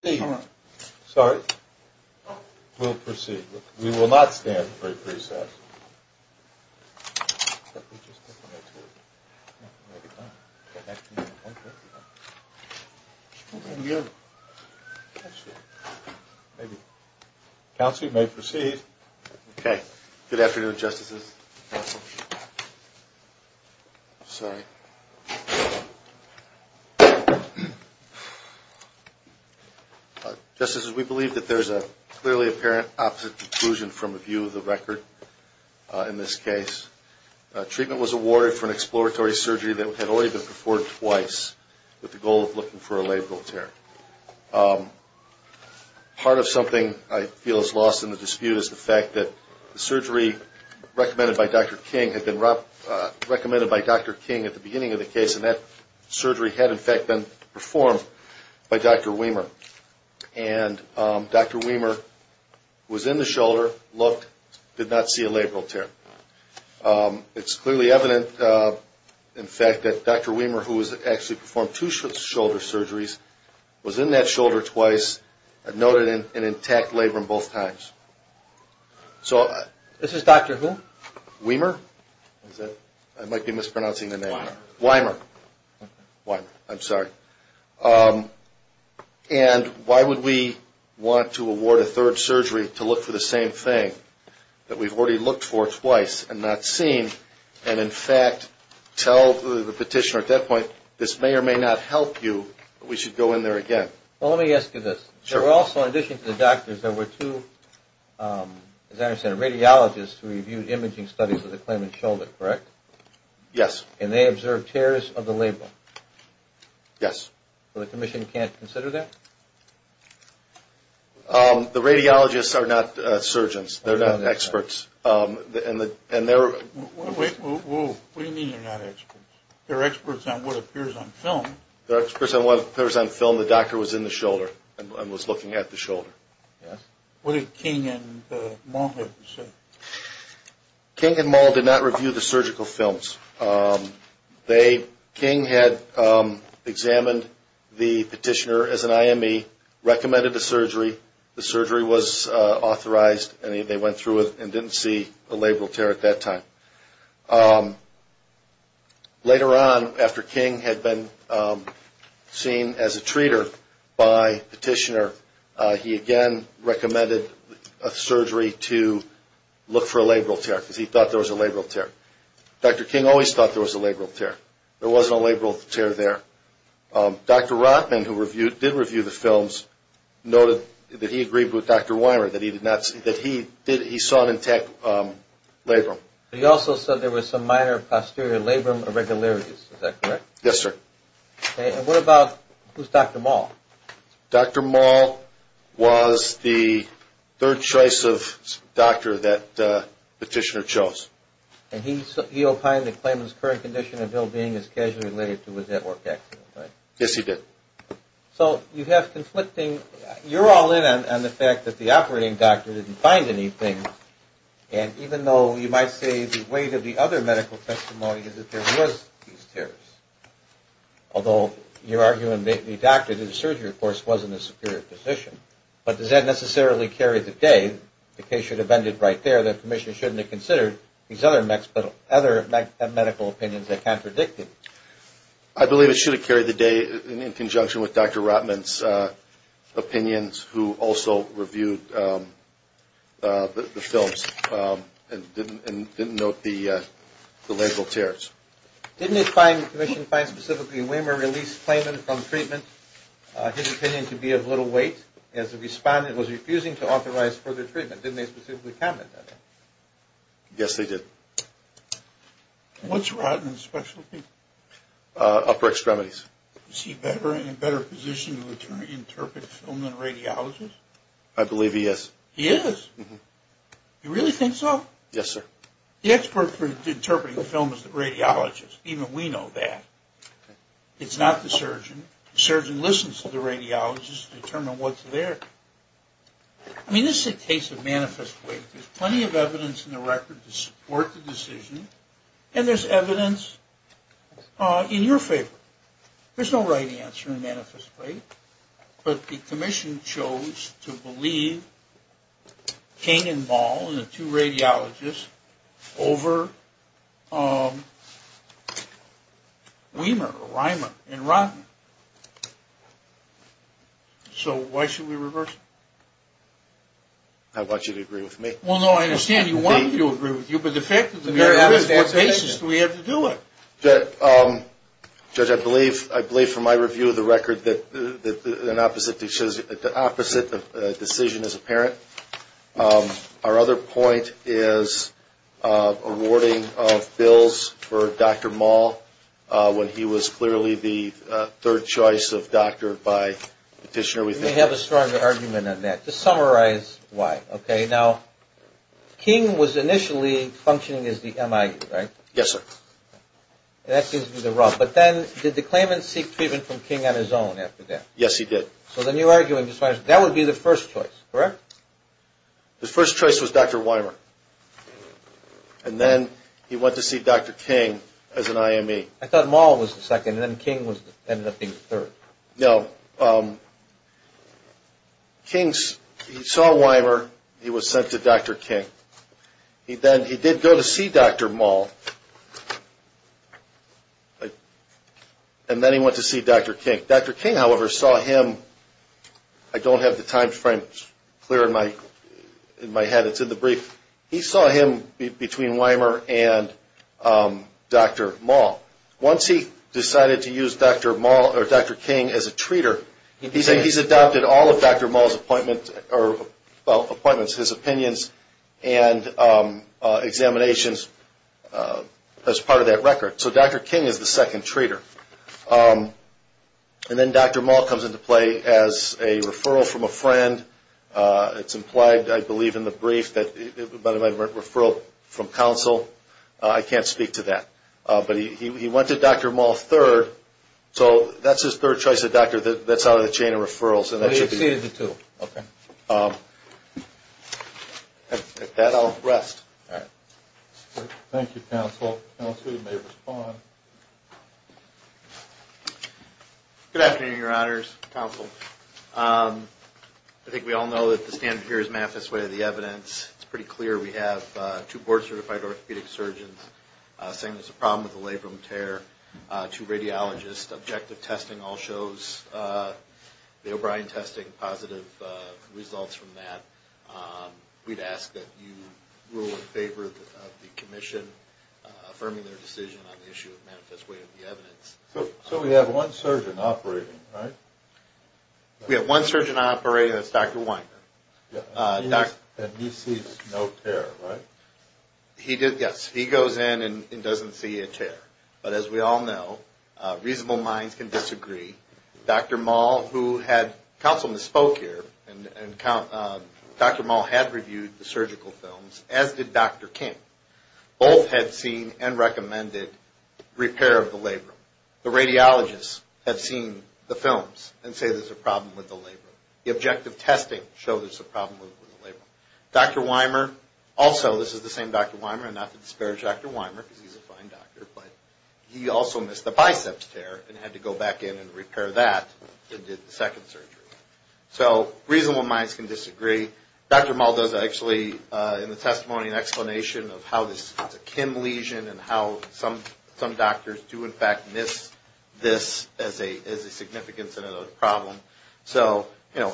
Steve. Sorry. We'll proceed. We will not stand for a precess. Counsel, you may proceed. Okay. Good afternoon, Justices. Sorry. Justices, we believe that there's a clearly apparent opposite conclusion from a view of the record in this case. Treatment was awarded for an exploratory surgery that had already been performed twice with the goal of looking for surgery recommended by Dr. King at the beginning of the case, and that surgery had in fact been performed by Dr. Weimer. And Dr. Weimer was in the shoulder, looked, did not see a labral tear. It's clearly evident, in fact, that Dr. Weimer, who has actually performed two shoulder surgeries, was in that shoulder twice and noted an intact labrum both times. This is Dr. who? Weimer. I might be mispronouncing the name. Weimer. Weimer. I'm sorry. And why would we want to award a third surgery to look for the same thing that we've already looked for twice and not seen, and in fact tell the petitioner at that point, this may or may not help you, but we should go in there again? Well, let me ask you this. There were also, in addition to the doctors, there were two, as I understand it, radiologists who reviewed imaging studies of the claimant's shoulder, correct? Yes. And they observed tears of the labrum? Yes. So the commission can't consider that? The radiologists are not surgeons. They're not experts. And they're... What do you mean they're not experts? They're experts on what appears on film. They're experts on what appears on film. The doctor was in the shoulder and was looking at the shoulder. Yes. What did King and Moll have to say? King and Moll did not review the surgical films. They, King had examined the petitioner as an IME, recommended the surgery, the surgery was authorized, and they went through it and didn't see a labral tear at that time. Later on, after King had been seen as a treater by the petitioner, he again recommended a surgery to look for a labral tear, because he thought there was a labral tear. Dr. King always thought there was a labral tear. There wasn't a labral tear there. Dr. Rotman, who did review the films, noted that he agreed with Dr. Weimer that he saw an intact labrum. He also said there And what about... Who's Dr. Moll? Dr. Moll was the third choice of doctor that the petitioner chose. And he opined that Clayman's current condition and well-being is casually related to his network accident, right? Yes, he did. So you have conflicting... You're all in on the fact that the operating doctor didn't find anything, and even though you might say the weight of the other medical testimony is that there was these tears, although you're arguing the doctor did the surgery, of course, wasn't a superior physician. But does that necessarily carry the day? The case should have ended right there. The commission shouldn't have considered these other medical opinions that contradicted. I believe it should have carried the day in conjunction with Dr. Rotman's opinions, who also reviewed the films and didn't note the lateral tears. Didn't the commission find specifically that Weimer released Clayman from treatment, his opinion to be of little weight, as the respondent was refusing to authorize further treatment? Didn't they specifically comment on that? Yes, they did. What's Rotman's specialty? Upper extremities. Is he in a better position to interpret film than a radiologist? I believe he is. He is? You really think so? Yes, sir. The expert for interpreting film is the radiologist. Even we know that. It's not the surgeon. The surgeon listens to the radiologist to determine what's there. I mean, this is a case of manifest weight. There's plenty of evidence in the record to support the decision, and there's evidence in your favor. There's no right answer in manifest weight, but the commission chose to believe Kane and Ball and the two radiologists over Weimer and Rotman. So why should we reverse it? I want you to agree with me. Well, no, I understand you agree with you, but the fact of the matter is, what basis do we have to do it? Judge, I believe from my review of the record that the opposite decision is apparent. Our other point is awarding of bills for Dr. Maul when he was clearly the third choice of doctor by petitioner. You may have a stronger argument on that. Just summarize why, okay? Now, King was initially functioning as the M.I.U., right? Yes, sir. That seems to be the rub. But then, did the claimant seek treatment from King on his own after that? Yes, he did. So then you're arguing that would be the first choice, correct? The first choice was Dr. Weimer, and then he went to see Dr. King as an I.M.E. I thought Maul was the second, and then King ended up being the third. No, King saw Weimer, he was sent to Dr. King. He did go to see Dr. Maul, and then he went to see Dr. King. Dr. King, however, saw him, I don't have the time frame clear in my head, it's in the brief, he saw him between Weimer and Dr. Maul. Once he decided to use Dr. King as a treater, he said he's adopted all of Dr. Maul's appointments, his opinions, and examinations as part of that record. So Dr. King is the second treater. And then Dr. Maul comes into play as a referral from a friend. It's implied, I believe, in But he went to Dr. Maul third, so that's his third choice of doctor that's out of the chain of referrals. And he exceeded the two. Okay. With that, I'll rest. Thank you, Counsel. Counsel, you may respond. Good afternoon, Your Honors, Counsel. I think we all know that the standard here is math is the way of the evidence. It's pretty clear we have two board certified orthopedic surgeons saying there's a problem with the labrum tear. Two radiologists objective testing all shows the O'Brien testing positive results from that. We'd ask that you rule in favor of the commission affirming their decision on the issue of manifest way of the evidence. So we have one surgeon operating, right? We have one surgeon operating, that's And he sees no tear, right? He does, yes. He goes in and doesn't see a tear. But as we all know, reasonable minds can disagree. Dr. Maul, who had, counsel misspoke here, Dr. Maul had reviewed the surgical films as did Dr. King. Both had seen and recommended repair of the labrum. The radiologists have seen the films and say there's a problem with the labrum. The objective testing shows there's a problem with the labrum. Dr. Weimer, also this is the same Dr. Weimer, and not to disparage Dr. Weimer because he's a fine doctor, but he also missed the biceps tear and had to go back in and repair that and did the second surgery. So reasonable minds can disagree. Dr. Maul does actually in the testimony an explanation of how this is a Kim lesion and how some is a significance in another problem. So, you know,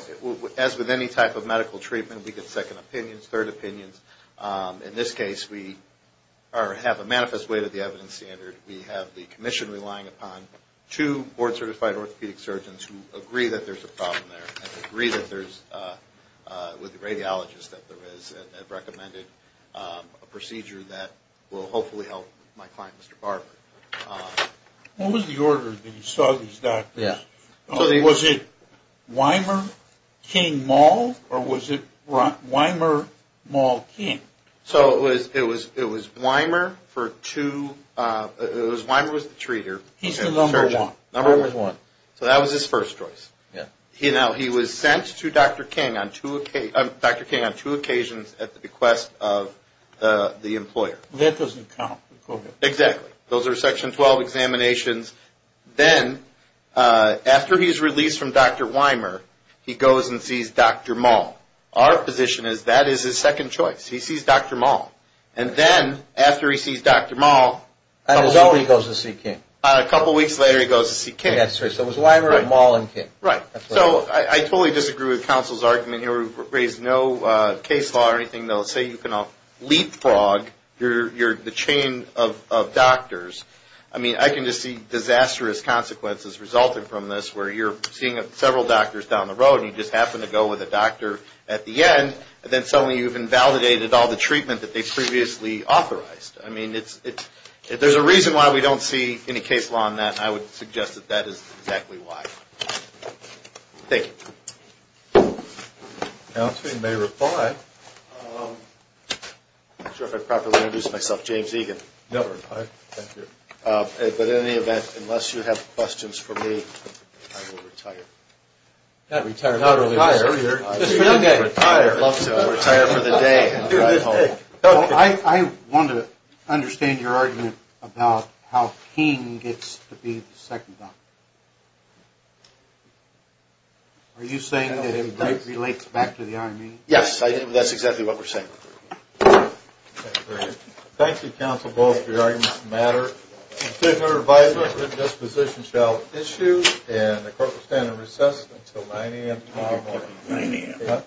as with any type of medical treatment, we get second opinions, third opinions. In this case, we have a manifest way to the evidence standard. We have the commission relying upon two board certified orthopedic surgeons who agree that there's a problem there and agree that there's, with the radiologists that there is, have recommended a procedure that will hopefully help my client, Mr. Barber. What was the order that you saw these doctors? Was it Weimer, King, Maul, or was it Weimer, Maul, King? So it was Weimer for two, it was Weimer was the treater. He's the number one. Number one. So that was his first choice. Yeah. You know, he was sent to Dr. King on two, Dr. King on two occasions at the bequest of the employer. That doesn't count with COVID. Exactly. Those are Section 12 examinations. Then, after he's released from Dr. Weimer, he goes and sees Dr. Maul. Our position is that is his second choice. He sees Dr. Maul. And then, after he sees Dr. Maul, A couple weeks later, he goes to see King. A couple weeks later, he goes to see King. That's right. So it was Weimer, Maul, and King. Right. So I totally disagree with counsel's argument here. We've raised no case law or anything. Say you can leapfrog the chain of doctors. I mean, I can just see disastrous consequences resulting from this, where you're seeing several doctors down the road, and you just happen to go with a doctor at the end, and then suddenly you've invalidated all the treatment that they previously authorized. I mean, there's a reason why we don't see any case law on that, and I would suggest that that is exactly why. Thank you. Counsel may reply. I'm not sure if I properly introduced myself. James Egan. Never. Thank you. But in any event, unless you have questions for me, I will retire. Not retire. Not retire. Just for the day. I would love to retire for the day and drive home. I want to understand your argument about how King gets to be the second doctor. Are you saying that it relates back to the Army? Yes, that's exactly what we're saying. Thank you, counsel, both for your arguments that matter. Conceder advisory for disposition shall issue, and the court will stand in recess until 9 a.m. tomorrow morning. 9 a.m.